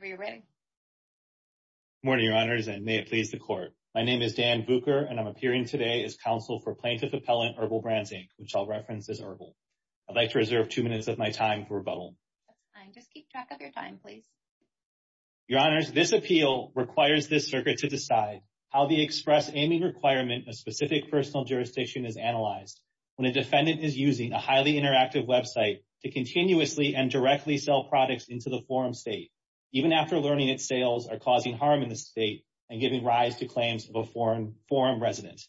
Good morning, Your Honors, and may it please the Court. My name is Dan Bucher, and I'm appearing today as counsel for Plaintiff Appellant Herbal Brands, Inc., which I'll reference as Herbal. I'd like to reserve two minutes of my time for rebuttal. That's fine. Just keep track of your time, please. Your Honors, this appeal requires this circuit to decide how the express aiming requirement of specific personal jurisdiction is analyzed when a defendant is using a highly interactive website to continuously and directly sell products into the forum state, even after learning that sales are causing harm in the state and giving rise to claims of a forum resident.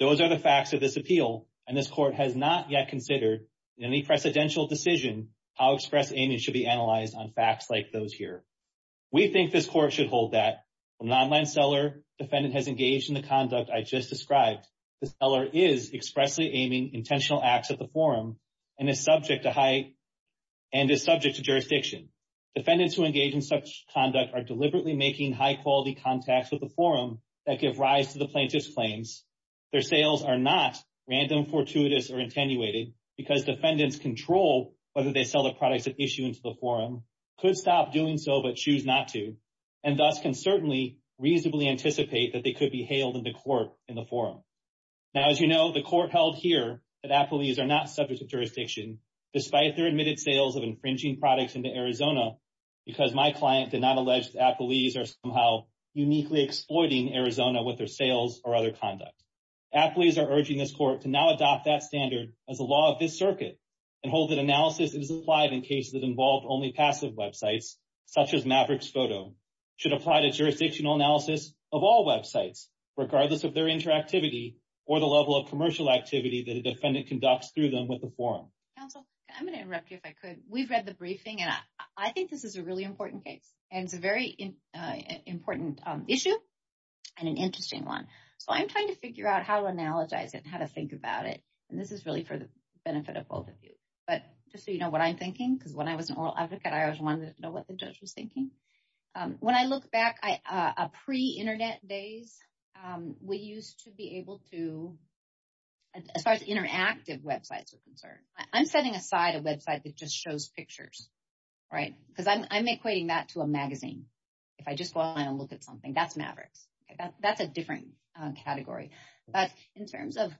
Those are the facts of this appeal, and this Court has not yet considered in any precedential decision how express aiming should be analyzed on facts like those here. We think this Court should hold that. From an online seller, defendant has engaged in the conduct I just described. The seller is expressly aiming intentional acts at the forum and is subject to jurisdiction. Defendants who engage in such conduct are deliberately making high-quality contacts with the forum that give rise to the plaintiff's claims. Their sales are not random, fortuitous, or attenuated because defendants control whether they sell the products at issue into the forum, could stop doing so but choose not to, and thus can certainly reasonably anticipate that they could be hailed into court in the forum. Now, as you know, the Court held here that appellees are not subject to jurisdiction despite their admitted sales of infringing products into Arizona because my client did not allege that appellees are somehow uniquely exploiting Arizona with their sales or other conduct. Appellees are urging this Court to now adopt that standard as a law of this circuit and hold that analysis is applied in cases that involve only passive websites, such as Maverick's Photo, should apply to jurisdictional analysis of all websites, regardless of their interactivity or the level of commercial activity that a defendant conducts through them with the forum. Counsel, I'm going to interrupt you if I could. We've read the briefing, and I think this is a really important case, and it's a very important issue and an interesting one. So I'm trying to figure out how to analogize it and how to think about it, and this is really for the benefit of both of you. But just so you know what I'm thinking, because when I was an oral advocate, I always wanted to know what the judge was thinking. When I look back, pre-Internet days, we used to be able to, as far as interactive websites are concerned, I'm setting aside a website that just shows pictures, right? Because I'm equating that to a magazine. If I just go online and look at something, that's Maverick's. That's a different category. But in terms of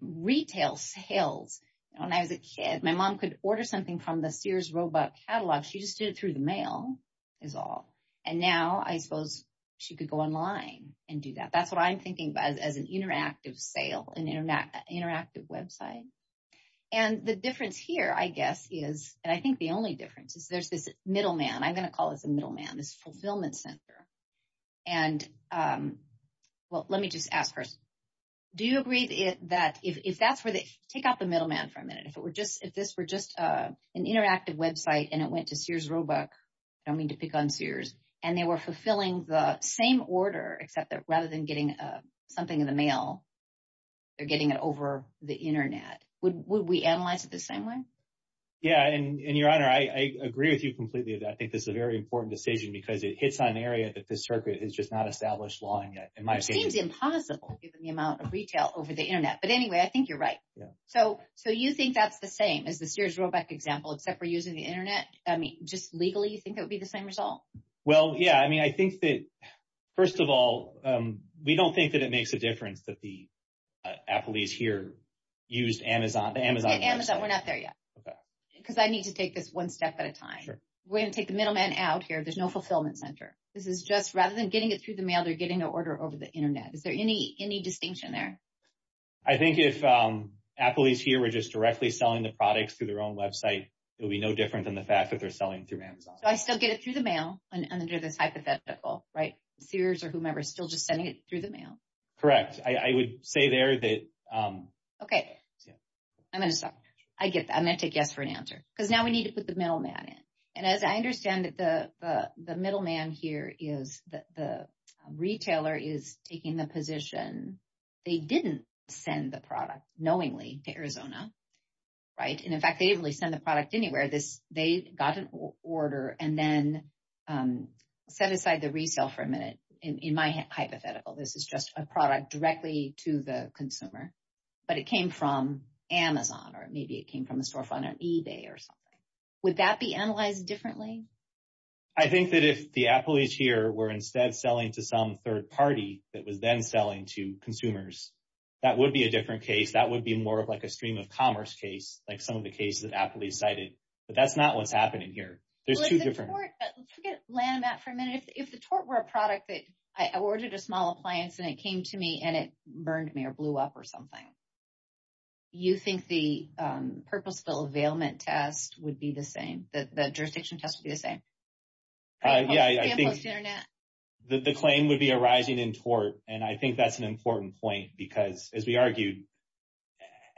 retail sales, when I was a kid, my mom could order something from the Sears robot catalog. She just did it through the mail is all, and now I suppose she could go online and do that. That's what I'm thinking about as an interactive sale, an interactive website. And the difference here, I guess, is, and I think the only difference, is there's this middleman. I'm going to call this a middleman, this fulfillment center. And, well, let me just ask first. Do you agree that if that's where they, take out the middleman for a minute. If this were just an interactive website and it went to Sears Roebuck, I don't mean to pick on Sears, and they were fulfilling the same order, except that rather than getting something in the mail, they're getting it over the Internet. Would we analyze it the same way? Yeah, and, Your Honor, I agree with you completely. I think this is a very important decision because it hits on an area that the circuit has just not established law in yet. It seems impossible given the amount of retail over the Internet. But anyway, I think you're right. So you think that's the same as the Sears Roebuck example, except for using the Internet? I mean, just legally, you think that would be the same result? Well, yeah. I mean, I think that, first of all, we don't think that it makes a difference that the Appleys here used Amazon. Amazon, we're not there yet. Okay. Because I need to take this one step at a time. Sure. We're going to take the middleman out here. There's no fulfillment center. This is just, rather than getting it through the mail, they're getting an order over the Internet. Is there any distinction there? I think if Appleys here were just directly selling the products through their own website, it would be no different than the fact that they're selling through Amazon. So I still get it through the mail under this hypothetical, right? Sears or whomever is still just sending it through the mail. Correct. I would say there that – Okay. I'm going to stop. I get that. I'm going to take yes for an answer. Because now we need to put the middleman in. And as I understand it, the middleman here is the retailer is taking the position they didn't send the product knowingly to Arizona, right? And, in fact, they didn't really send the product anywhere. They got an order and then set aside the resale for a minute in my hypothetical. This is just a product directly to the consumer. But it came from Amazon or maybe it came from a storefront on eBay or something. Would that be analyzed differently? I think that if the Appleys here were instead selling to some third party that was then selling to consumers, that would be a different case. That would be more of like a stream of commerce case, like some of the cases that Appleys cited. But that's not what's happening here. There's two different – Let's look at Landmatt for a minute. If the tort were a product that I ordered a small appliance and it came to me and it burned me or blew up or something, you think the purposeful availment test would be the same? The jurisdiction test would be the same? Yeah, I think – Samples to Internet. The claim would be arising in tort. And I think that's an important point because, as we argued,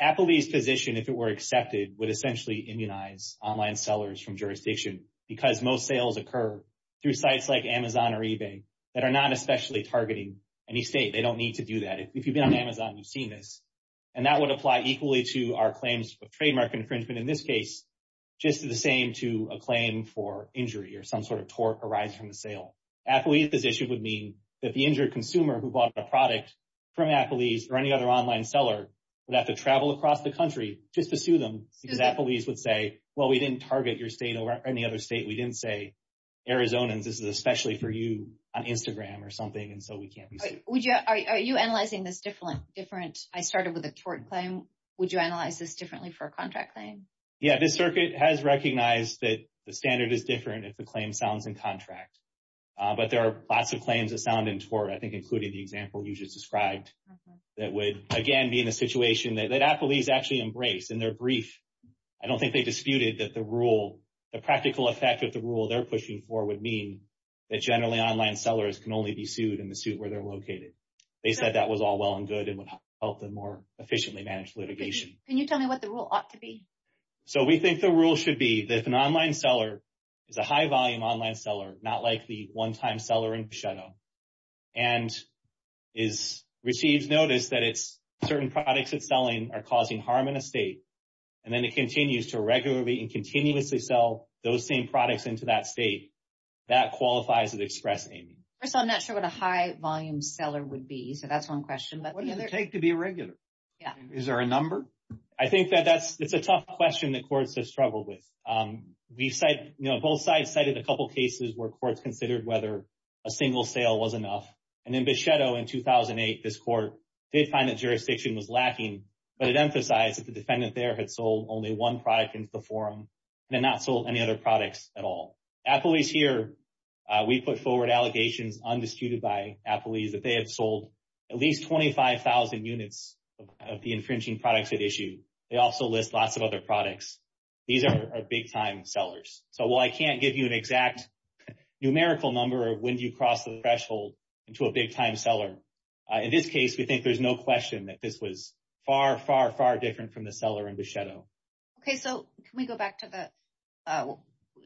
Appleys' position, if it were accepted, would essentially immunize online sellers from jurisdiction because most sales occur through sites like Amazon or eBay that are not especially targeting any state. They don't need to do that. If you've been on Amazon, you've seen this. And that would apply equally to our claims of trademark infringement in this case, just the same to a claim for injury or some sort of tort arising from the sale. Appleys' position would mean that the injured consumer who bought a product from Appleys or any other online seller would have to travel across the country just to sue them because Appleys would say, well, we didn't target your state or any other state. We didn't say, Arizonans, this is especially for you on Instagram or something, and so we can't be sued. Are you analyzing this different? I started with a tort claim. Would you analyze this differently for a contract claim? Yeah, the circuit has recognized that the standard is different if the claim sounds in contract. But there are lots of claims that sound in tort, I think, including the example you just described that would, again, be in a situation that Appleys actually embraced in their brief. I don't think they disputed that the rule, the practical effect of the rule they're pushing for would mean that generally online sellers can only be sued in the suit where they're located. They said that was all well and good and would help them more efficiently manage litigation. Can you tell me what the rule ought to be? So we think the rule should be that if an online seller is a high-volume online seller, not like the one-time seller in Pachetto, and receives notice that certain products it's selling are causing harm in a state, and then it continues to regularly and continuously sell those same products into that state, that qualifies as express aiming. First of all, I'm not sure what a high-volume seller would be, so that's one question. What does it take to be a regular? Yeah. Is there a number? I think that that's a tough question that courts have struggled with. Both sides cited a couple cases where courts considered whether a single sale was enough. And in Pachetto in 2008, this court did find that jurisdiction was lacking, but it emphasized that the defendant there had sold only one product into the forum and had not sold any other products at all. Applebee's here, we put forward allegations undisputed by Applebee's that they have sold at least 25,000 units of the infringing products at issue. They also list lots of other products. These are big-time sellers. So while I can't give you an exact numerical number of when you cross the threshold into a big-time seller, in this case, we think there's no question that this was far, far, far different from the seller in Pachetto. Okay, so can we go back to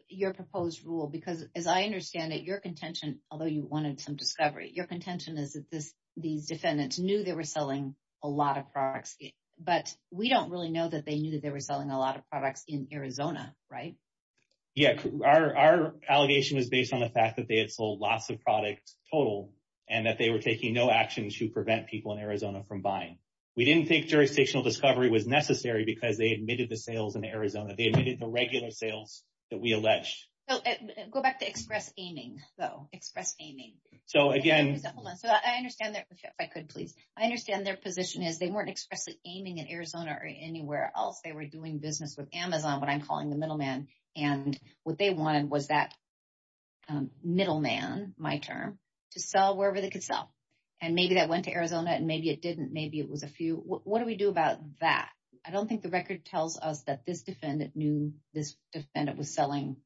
your proposed rule? Because as I understand it, your contention, although you wanted some discovery, your contention is that these defendants knew they were selling a lot of products. But we don't really know that they knew that they were selling a lot of products in Arizona, right? Yeah. Our allegation is based on the fact that they had sold lots of products total and that they were taking no action to prevent people in Arizona from buying. We didn't think jurisdictional discovery was necessary because they admitted the sales in Arizona. They admitted the regular sales that we allege. Go back to express aiming, though, express aiming. So again— Hold on. So I understand that—if I could, please. I understand their position is they weren't expressly aiming at Arizona or anywhere else. They were doing business with Amazon, what I'm calling the middleman. And what they wanted was that middleman, my term, to sell wherever they could sell. And maybe that went to Arizona and maybe it didn't. Maybe it was a few. What do we do about that? I don't think the record tells us that this defendant knew this defendant was selling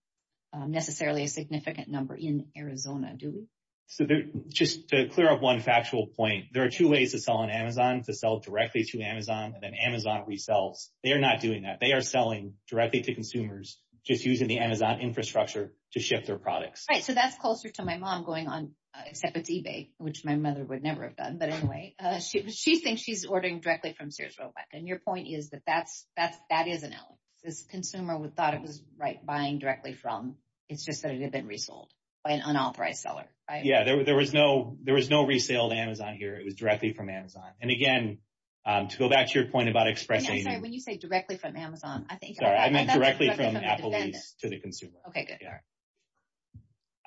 necessarily a significant number in Arizona, do we? So just to clear up one factual point, there are two ways to sell on Amazon, to sell directly to Amazon, and then Amazon resells. They are not doing that. They are selling directly to consumers just using the Amazon infrastructure to ship their products. Right, so that's closer to my mom going on—except it's eBay, which my mother would never have done. But anyway, she thinks she's ordering directly from Sears Roebuck. And your point is that that is an allegation. This consumer thought it was buying directly from—it's just that it had been resold by an unauthorized seller, right? Yeah, there was no resale to Amazon here. It was directly from Amazon. And again, to go back to your point about express aiming— I'm sorry, when you say directly from Amazon, I think— Sorry, I meant directly from Applebee's to the consumer. Okay, good.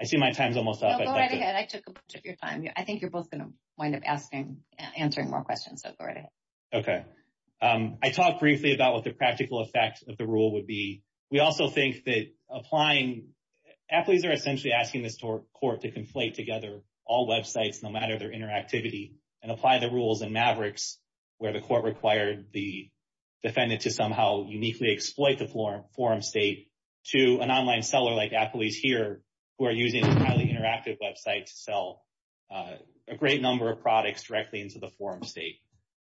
I see my time's almost up. No, go right ahead. I took a bunch of your time. I think you're both going to wind up answering more questions, so go right ahead. Okay. I talked briefly about what the practical effect of the rule would be. We also think that applying—athletes are essentially asking this court to conflate together all websites, no matter their interactivity, and apply the rules in Mavericks, where the court required the defendant to somehow uniquely exploit the forum state, to an online seller like Applebee's here, who are using a highly interactive website to sell a great number of products directly into the forum state.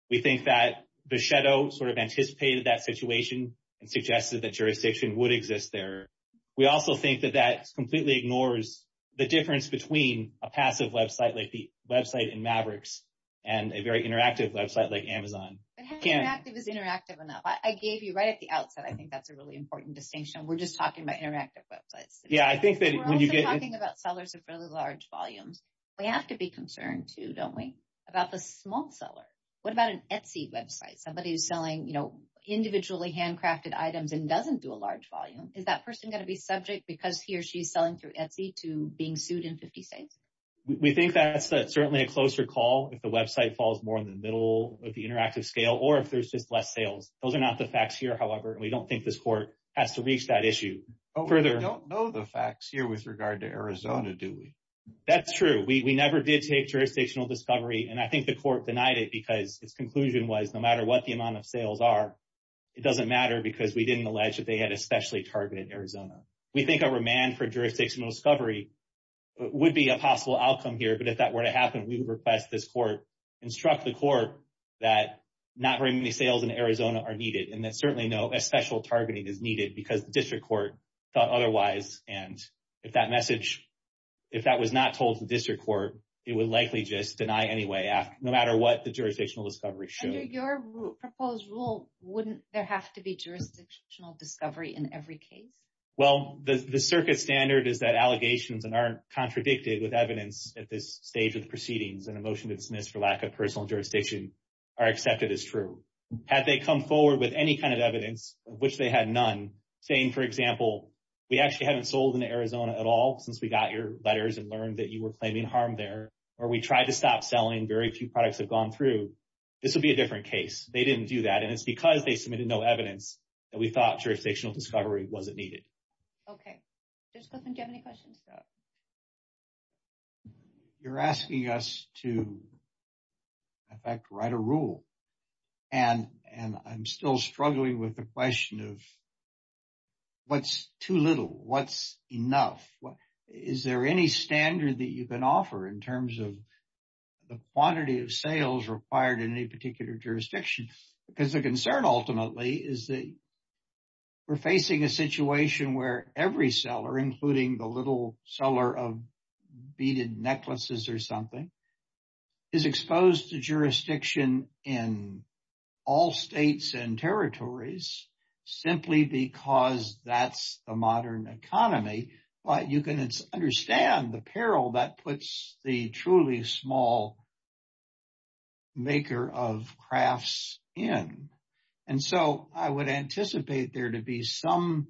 We think that Bechetto sort of anticipated that situation and suggested that jurisdiction would exist there. We also think that that completely ignores the difference between a passive website like the website in Mavericks and a very interactive website like Amazon. But how interactive is interactive enough? I gave you right at the outset, I think that's a really important distinction. We're just talking about interactive websites. Yeah, I think that when you get— We're also talking about sellers of fairly large volumes. We have to be concerned too, don't we, about the small seller. What about an Etsy website? Somebody who's selling, you know, individually handcrafted items and doesn't do a large volume. Is that person going to be subject, because he or she is selling through Etsy, to being sued in 50 states? We think that's certainly a closer call if the website falls more in the middle of the interactive scale or if there's just less sales. Those are not the facts here, however, and we don't think this court has to reach that issue further. We don't know the facts here with regard to Arizona, do we? That's true. We never did take jurisdictional discovery, and I think the court denied it because its conclusion was no matter what the amount of sales are, it doesn't matter because we didn't allege that they had especially targeted Arizona. We think a remand for jurisdictional discovery would be a possible outcome here, but if that were to happen, we would request this court instruct the court that not very many sales in Arizona are needed and that certainly no special targeting is needed because the district court thought otherwise, and if that message—if that was not told to the district court, it would likely just deny anyway, no matter what the jurisdictional discovery showed. Under your proposed rule, wouldn't there have to be jurisdictional discovery in every case? Well, the circuit standard is that allegations that aren't contradicted with evidence at this stage of the proceedings and a motion to dismiss for lack of personal jurisdiction are accepted as true. Had they come forward with any kind of evidence, of which they had none, saying, for example, we actually haven't sold in Arizona at all since we got your letters and learned that you were claiming harm there, or we tried to stop selling, very few products have gone through, this would be a different case. They didn't do that, and it's because they submitted no evidence that we thought jurisdictional discovery wasn't needed. Okay. Judge Gosselin, do you have any questions? You're asking us to, in fact, write a rule, and I'm still struggling with the question of what's too little, what's enough. Is there any standard that you can offer in terms of the quantity of sales required in any particular jurisdiction? Because the concern ultimately is that we're facing a situation where every seller, including the little seller of beaded necklaces or something, is exposed to jurisdiction in all states and territories simply because that's the modern economy. But you can understand the peril that puts the truly small maker of crafts in. And so I would anticipate there to be some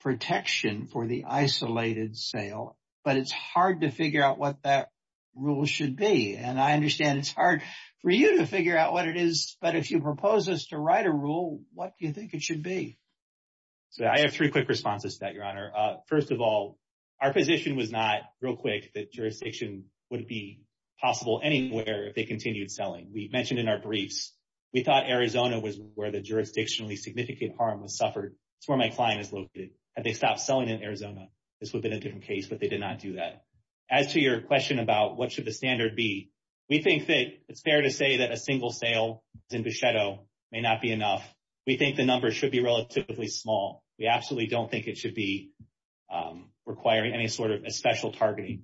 protection for the isolated sale, but it's hard to figure out what that rule should be. And I understand it's hard for you to figure out what it is, but if you propose us to write a rule, what do you think it should be? So I have three quick responses to that, Your Honor. First of all, our position was not, real quick, that jurisdiction would be possible anywhere if they continued selling. We mentioned in our briefs, we thought Arizona was where the jurisdictionally significant harm was suffered. It's where my client is located. Had they stopped selling in Arizona, this would have been a different case, but they did not do that. As to your question about what should the standard be, we think that it's fair to say that a single sale in Bechetto may not be enough. We think the number should be relatively small. We absolutely don't think it should be requiring any sort of special targeting.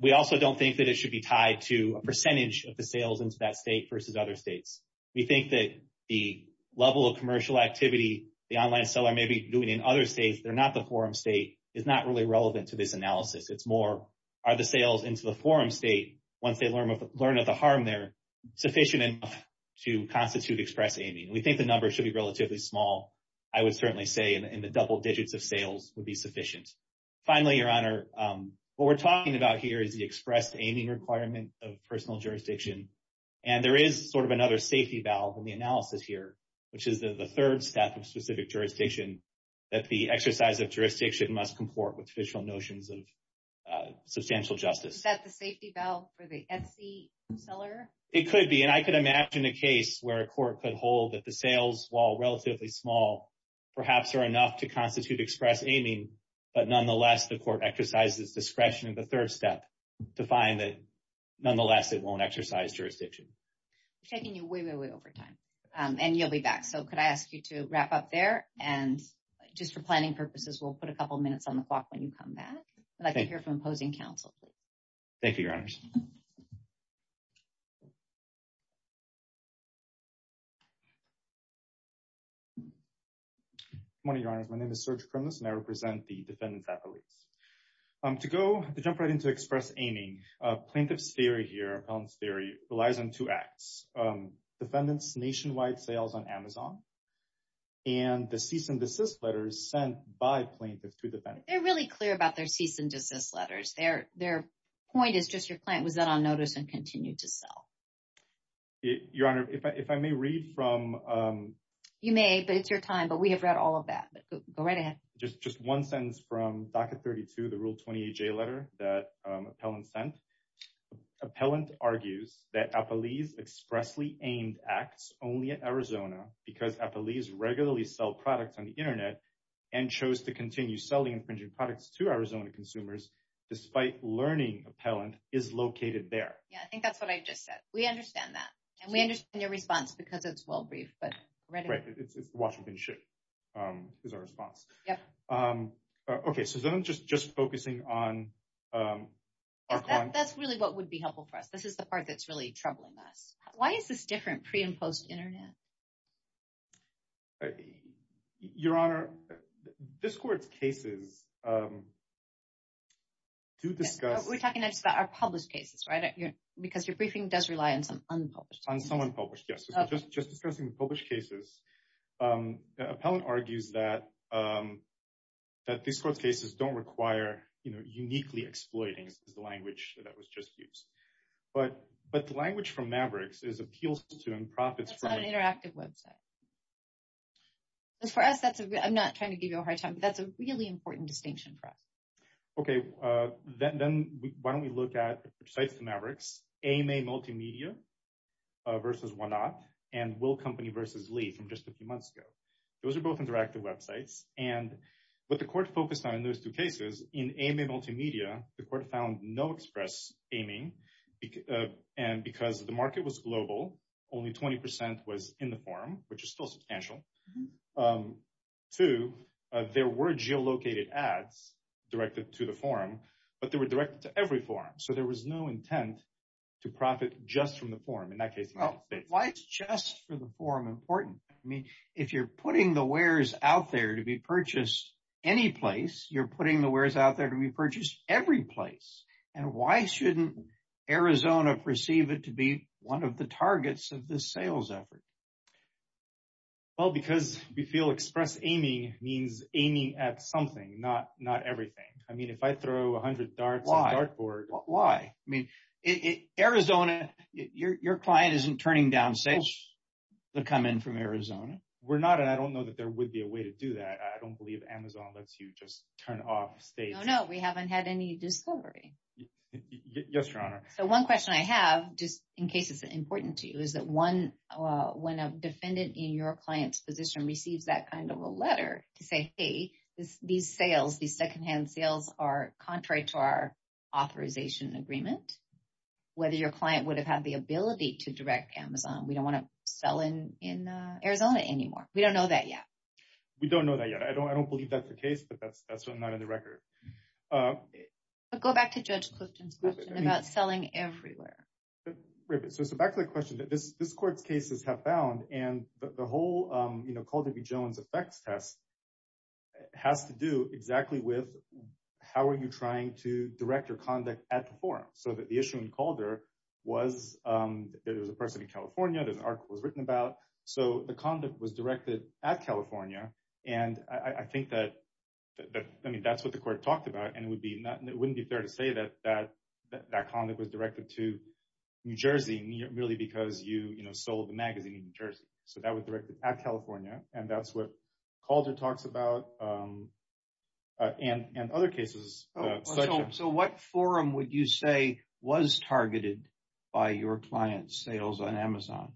We also don't think that it should be tied to a percentage of the sales into that state versus other states. We think that the level of commercial activity the online seller may be doing in other states, they're not the forum state, is not really relevant to this analysis. It's more, are the sales into the forum state, once they learn of the harm there, sufficient enough to constitute express aiming? We think the number should be relatively small. I would certainly say in the double digits of sales would be sufficient. Finally, Your Honor, what we're talking about here is the express aiming requirement of personal jurisdiction. There is sort of another safety valve in the analysis here, which is the third step of specific jurisdiction, that the exercise of jurisdiction must comport with official notions of substantial justice. Is that the safety valve for the Etsy seller? It could be, and I could imagine a case where a court could hold that the sales, while relatively small, perhaps are enough to constitute express aiming, but nonetheless, the court exercises discretion in the third step to find that, nonetheless, it won't exercise jurisdiction. We're taking you way, way, way over time, and you'll be back. So could I ask you to wrap up there? And just for planning purposes, we'll put a couple of minutes on the clock when you come back. I'd like to hear from opposing counsel. Thank you, Your Honors. Good morning, Your Honors. My name is Serge Kronos, and I represent the defendants' affiliates. To jump right into express aiming, plaintiff's theory here, appellant's theory, relies on two acts, defendants' nationwide sales on Amazon and the cease and desist letters sent by plaintiffs to defendants. They're really clear about their cease and desist letters. Their point is just your client was not on notice and continued to sell. Your Honor, if I may read from. You may, but it's your time, but we have read all of that. Go right ahead. Just one sentence from Docket 32, the Rule 28J letter that appellant sent. Appellant argues that appellees expressly aimed acts only at Arizona because appellees regularly sell products on the Internet and chose to continue selling infringing products to Arizona consumers despite learning appellant is located there. Yeah, I think that's what I just said. We understand that. And we understand your response because it's well brief, but. Right. It's Washington shit is our response. Yeah. OK, so then I'm just just focusing on. That's really what would be helpful for us. This is the part that's really troubling us. Why is this different pre and post Internet? Your Honor, this court's cases. To discuss, we're talking about our published cases, right? Because your briefing does rely on some unpublished on someone published. Yes. Just just discussing the published cases. Appellant argues that that this court's cases don't require uniquely exploiting the language that was just used. But but the language from Mavericks is appeals to and profits from an interactive Web site. As for us, that's I'm not trying to give you a hard time, but that's a really important distinction for us. OK, then why don't we look at the Mavericks AMA multimedia versus one up and will company versus Lee from just a few months ago? Those are both interactive Web sites. And what the court focused on in those two cases in AMA multimedia, the court found no express aiming. And because the market was global, only 20 percent was in the forum, which is still substantial. Two, there were geolocated ads directed to the forum, but they were directed to every forum. So there was no intent to profit just from the forum in that case. Well, why is just for the forum important? I mean, if you're putting the wares out there to be purchased any place, you're putting the wares out there to be purchased every place. And why shouldn't Arizona perceive it to be one of the targets of the sales effort? Well, because we feel express aiming means aiming at something, not not everything. I mean, if I throw a hundred darts or why? I mean, Arizona, your client isn't turning down stage to come in from Arizona. We're not. I don't know that there would be a way to do that. I don't believe Amazon lets you just turn off state. No, we haven't had any discovery. Yes, your honor. So one question I have, just in case it's important to you, is that one when a defendant in your client's position receives that kind of a letter to say, hey, these sales, these secondhand sales are contrary to our authorization agreement. Whether your client would have had the ability to direct Amazon, we don't want to sell in in Arizona anymore. We don't know that yet. We don't know that yet. I don't I don't believe that's the case, but that's that's not in the record. Go back to Judge Clifton's question about selling everywhere. So back to the question that this this court's cases have found and the whole Calderby-Jones effects test has to do exactly with how are you trying to direct your conduct at the forum? So that the issue in Calder was there was a person in California. This article was written about. So the conduct was directed at California. And I think that I mean, that's what the court talked about. And it would be it wouldn't be fair to say that that that conduct was directed to New Jersey merely because you sold the magazine in New Jersey. So that was directed at California. And that's what Calder talks about. And in other cases. So what forum would you say was targeted by your client's sales on Amazon?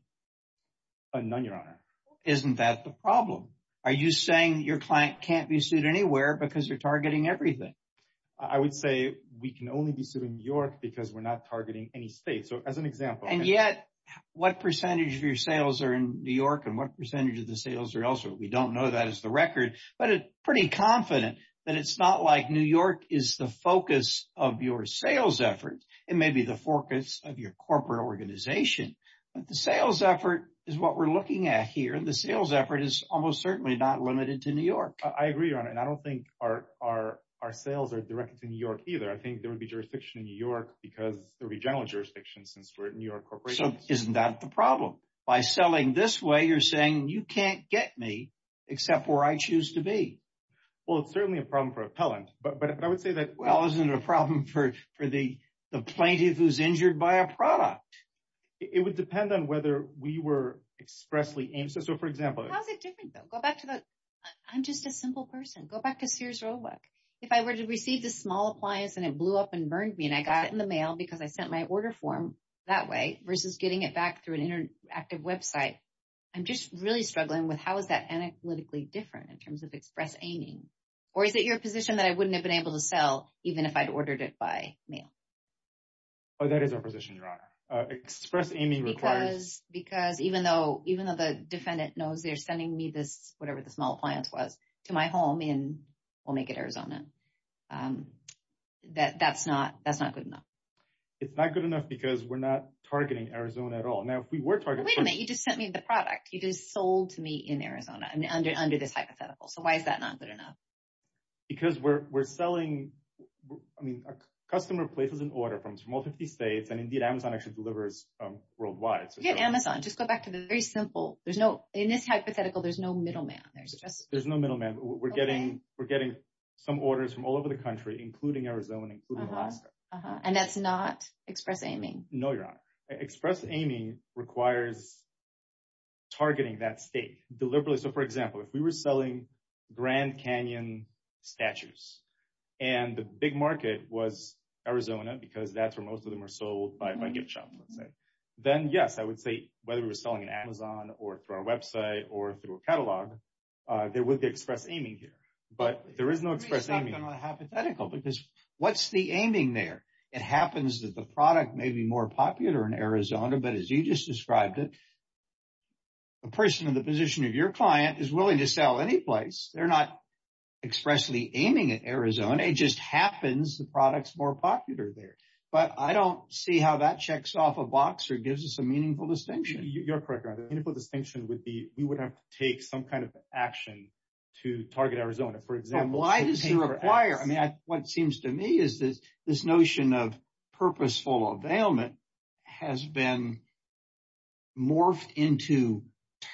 None, Your Honor. Isn't that the problem? Are you saying your client can't be sued anywhere because you're targeting everything? I would say we can only be sued in New York because we're not targeting any state. So as an example. And yet what percentage of your sales are in New York and what percentage of the sales are elsewhere? We don't know that is the record, but it's pretty confident that it's not like New York is the focus of your sales efforts. It may be the focus of your corporate organization, but the sales effort is what we're looking at here. And the sales effort is almost certainly not limited to New York. I agree on it. And I don't think our our our sales are directed to New York, either. I think there would be jurisdiction in New York because there would be general jurisdiction since we're in New York. So isn't that the problem by selling this way? You're saying you can't get me except where I choose to be. Well, it's certainly a problem for appellant, but I would say that, well, isn't it a problem for the plaintiff who's injured by a product? It would depend on whether we were expressly aims. So, for example, how's it different? Go back to the I'm just a simple person. Go back to Sears Roadwork. If I were to receive the small appliance and it blew up and burned me and I got it in the mail because I sent my order form that way versus getting it back through an interactive Web site. I'm just really struggling with how is that analytically different in terms of express aiming? Or is it your position that I wouldn't have been able to sell even if I'd ordered it by mail? Oh, that is our position, Your Honor. Express aiming requires. Because because even though even though the defendant knows they're sending me this, whatever the small appliance was to my home in Omaket, Arizona, that that's not that's not good enough. It's not good enough because we're not targeting Arizona at all. Now, if we were targeted, you just sent me the product you just sold to me in Arizona under under this hypothetical. So why is that not good enough? Because we're we're selling. I mean, a customer places an order from from all 50 states and indeed Amazon actually delivers worldwide. So Amazon, just go back to the very simple. There's no in this hypothetical. There's no middleman. There's just there's no middleman. We're getting we're getting some orders from all over the country, including Arizona, including Alaska. And that's not express aiming. No, Your Honor. Express aiming requires targeting that state deliberately. So, for example, if we were selling Grand Canyon statues and the big market was Arizona, because that's where most of them are sold by my gift shop, let's say, then, yes, I would say whether we're selling an Amazon or through our Web site or through a catalog, there would be express aiming here. But there is no express. I'm not hypothetical because what's the aiming there? It happens that the product may be more popular in Arizona. But as you just described it. A person in the position of your client is willing to sell any place. They're not expressly aiming at Arizona. It just happens the products more popular there. But I don't see how that checks off a box or gives us a meaningful distinction. You're correct. The distinction would be we would have to take some kind of action to target Arizona, for example. Why does it require? I mean, what seems to me is that this notion of purposeful availment has been morphed into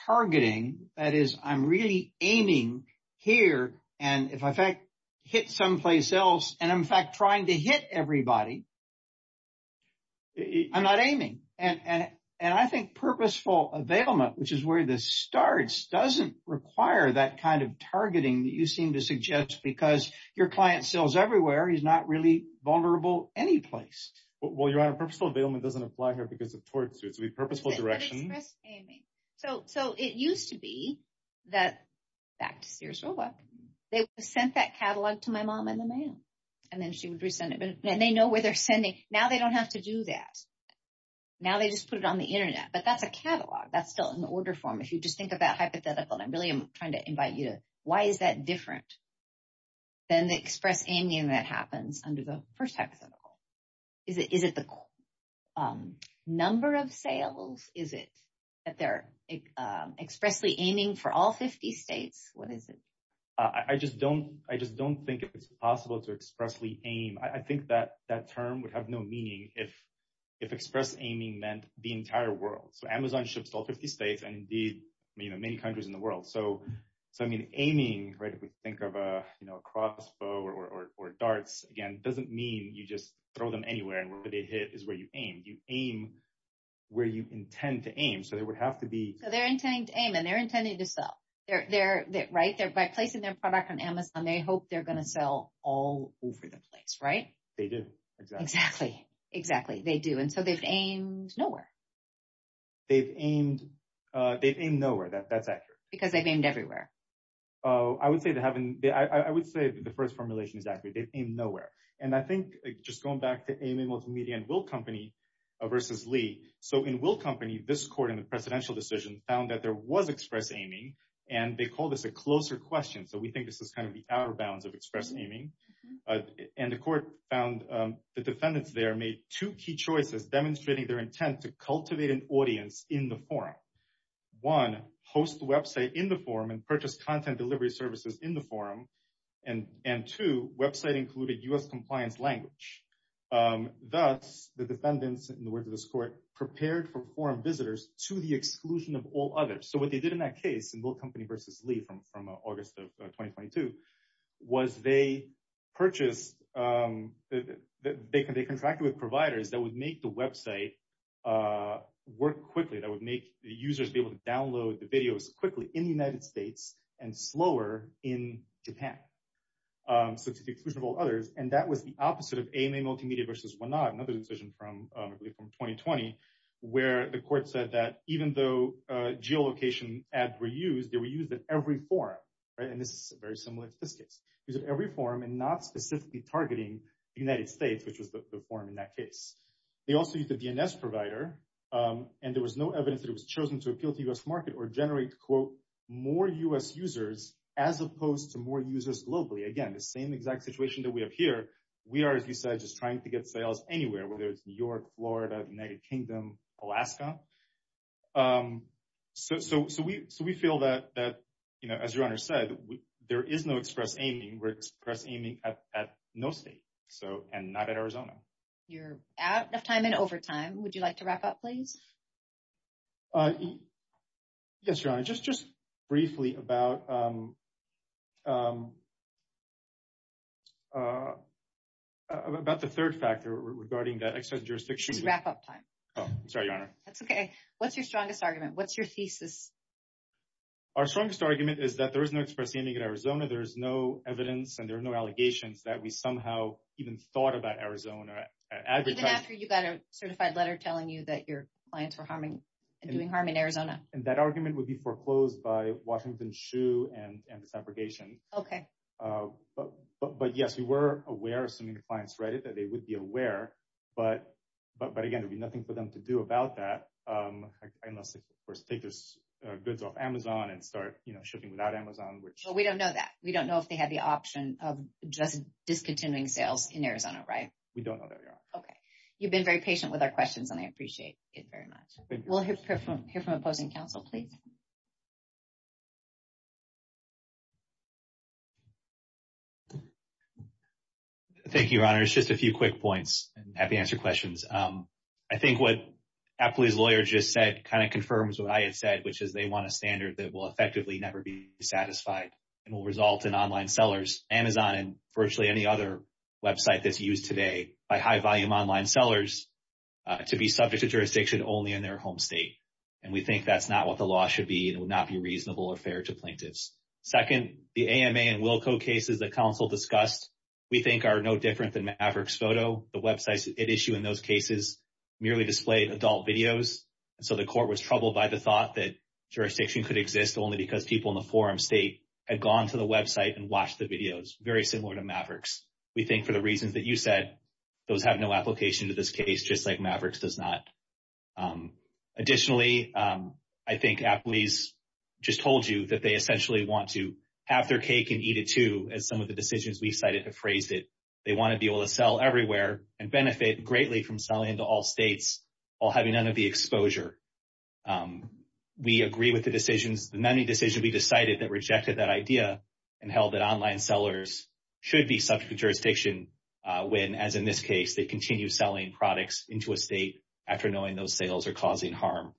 targeting. That is, I'm really aiming here. And if I hit someplace else and I'm in fact trying to hit everybody. I'm not aiming. And I think purposeful availment, which is where this starts, doesn't require that kind of targeting that you seem to suggest because your client sells everywhere. He's not really vulnerable any place. Well, your Honor, purposeful availment doesn't apply here because of tortsuits. It would be purposeful direction. So it used to be that back to Sears Roebuck, they sent that catalog to my mom in the mail and then she would resend it. And they know where they're sending. Now they don't have to do that. Now they just put it on the Internet. But that's a catalog. That's still an order form. If you just think of that hypothetical. And I'm really trying to invite you to why is that different than the express aiming that happens under the first hypothetical? Is it the number of sales? Is it that they're expressly aiming for all 50 states? What is it? I just don't think it's possible to expressly aim. I think that term would have no meaning if express aiming meant the entire world. So Amazon ships to all 50 states and indeed many countries in the world. So I mean, aiming, right, if we think of a crossbow or darts, again, doesn't mean you just throw them anywhere and where they hit is where you aim. You aim where you intend to aim. So there would have to be. So they're intending to aim and they're intending to sell. They're right there by placing their product on Amazon. They hope they're going to sell all over the place. Right. They do. Exactly. Exactly. They do. And so they've aimed nowhere. They've aimed, they've aimed nowhere. That's accurate. Because they've aimed everywhere. Oh, I would say they haven't. I would say the first formulation is accurate. They've aimed nowhere. And I think just going back to aiming multimedia and Will Company versus Lee. So in Will Company, this court in the presidential decision found that there was express aiming and they call this a closer question. So we think this is kind of the outer bounds of express aiming. And the court found the defendants there made two key choices demonstrating their intent to cultivate an audience in the forum. One, host the website in the forum and purchase content delivery services in the forum. And two, website included U.S. compliance language. Thus, the defendants, in the words of this court, prepared for forum visitors to the exclusion of all others. So what they did in that case, in Will Company versus Lee from August of 2022, was they purchased, they contracted with providers that would make the website work quickly, that would make the users be able to download the videos quickly in the United States and slower in Japan. So to the exclusion of all others. And that was the opposite of aiming multimedia versus whatnot. Another decision from 2020, where the court said that even though geolocation ads were used, they were used in every forum. And this is very similar to this case. Use of every forum and not specifically targeting the United States, which was the forum in that case. They also use the DNS provider. And there was no evidence that it was chosen to appeal to U.S. market or generate, quote, more U.S. users as opposed to more users globally. Again, the same exact situation that we have here. We are, as you said, just trying to get sales anywhere, whether it's New York, Florida, United Kingdom, Alaska. So we feel that, you know, as your Honor said, there is no express aiming. We're express aiming at no state. So and not at Arizona. You're out of time and over time. Would you like to wrap up, please? Yes, Your Honor. Just just briefly about. About the third factor regarding that extra jurisdiction wrap up time. Oh, I'm sorry, Your Honor. That's OK. What's your strongest argument? What's your thesis? Our strongest argument is that there is no express aiming in Arizona. There is no evidence and there are no allegations that we somehow even thought about Arizona. Even after you got a certified letter telling you that your clients were harming and doing harm in Arizona. And that argument would be foreclosed by Washington shoe and this abrogation. OK, but but yes, we were aware of some of the clients read it, that they would be aware. But but but again, there'd be nothing for them to do about that unless they first take this goods off Amazon and start shipping without Amazon, which we don't know that we don't know if they had the option of just discontinuing sales in Arizona. Right. We don't know that. OK, you've been very patient with our questions and I appreciate it very much. We'll hear from here from opposing counsel, please. Thank you, Your Honor. It's just a few quick points and happy answer questions. I think what Apple's lawyer just said kind of confirms what I had said, which is they want a standard that will effectively never be satisfied and will result in online sellers. Amazon and virtually any other website that's used today by high volume online sellers to be subject to jurisdiction only in their home state. And we think that's not what the law should be. It would not be reasonable or fair to plaintiffs. Second, the AMA and Wilco cases that counsel discussed, we think are no different than Maverick's photo. The websites at issue in those cases merely displayed adult videos. So the court was troubled by the thought that jurisdiction could exist only because people in the forum state had gone to the website and watched the videos. Very similar to Maverick's. We think for the reasons that you said, those have no application to this case, just like Maverick's does not. Additionally, I think Apple's just told you that they essentially want to have their cake and eat it, too, as some of the decisions we cited have phrased it. They want to be able to sell everywhere and benefit greatly from selling into all states while having none of the exposure. We agree with the decisions, the many decisions we decided that rejected that idea and held that online sellers should be subject to jurisdiction when, as in this case, they continue selling products into a state after knowing those sales are causing harm.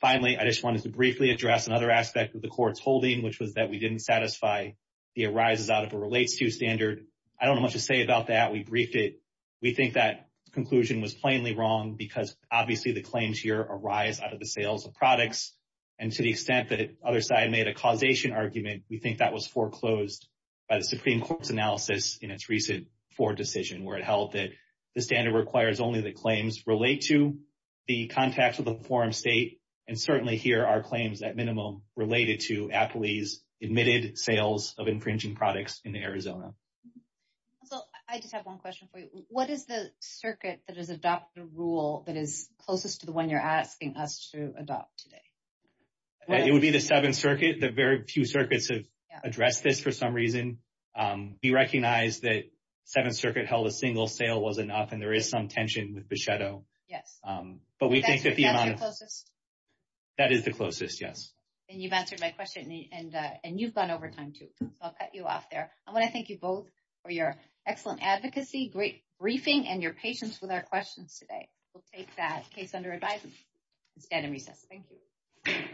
Finally, I just wanted to briefly address another aspect of the court's holding, which was that we didn't satisfy the arises out of a relates to standard. I don't know much to say about that. We briefed it. We think that conclusion was plainly wrong because obviously the claims here arise out of the sales of products. And to the extent that other side made a causation argument, we think that was foreclosed by the Supreme Court's analysis in its recent four decision where it held that the standard requires only the claims relate to the contacts with the forum state. And certainly here are claims that minimum related to Apple's admitted sales of infringing products in Arizona. So I just have one question for you. What is the circuit that has adopted a rule that is closest to the one you're asking us to adopt today? It would be the seventh circuit. The very few circuits have addressed this for some reason. We recognize that seventh circuit held a single sale was enough and there is some tension with the shadow. Yes, but we think that the closest that is the closest. Yes. And you've answered my question and you've gone over time to cut you off there. I want to thank you both for your excellent advocacy. Great briefing and your patience with our questions today. We'll take that case under advisement instead of recess. Thank you.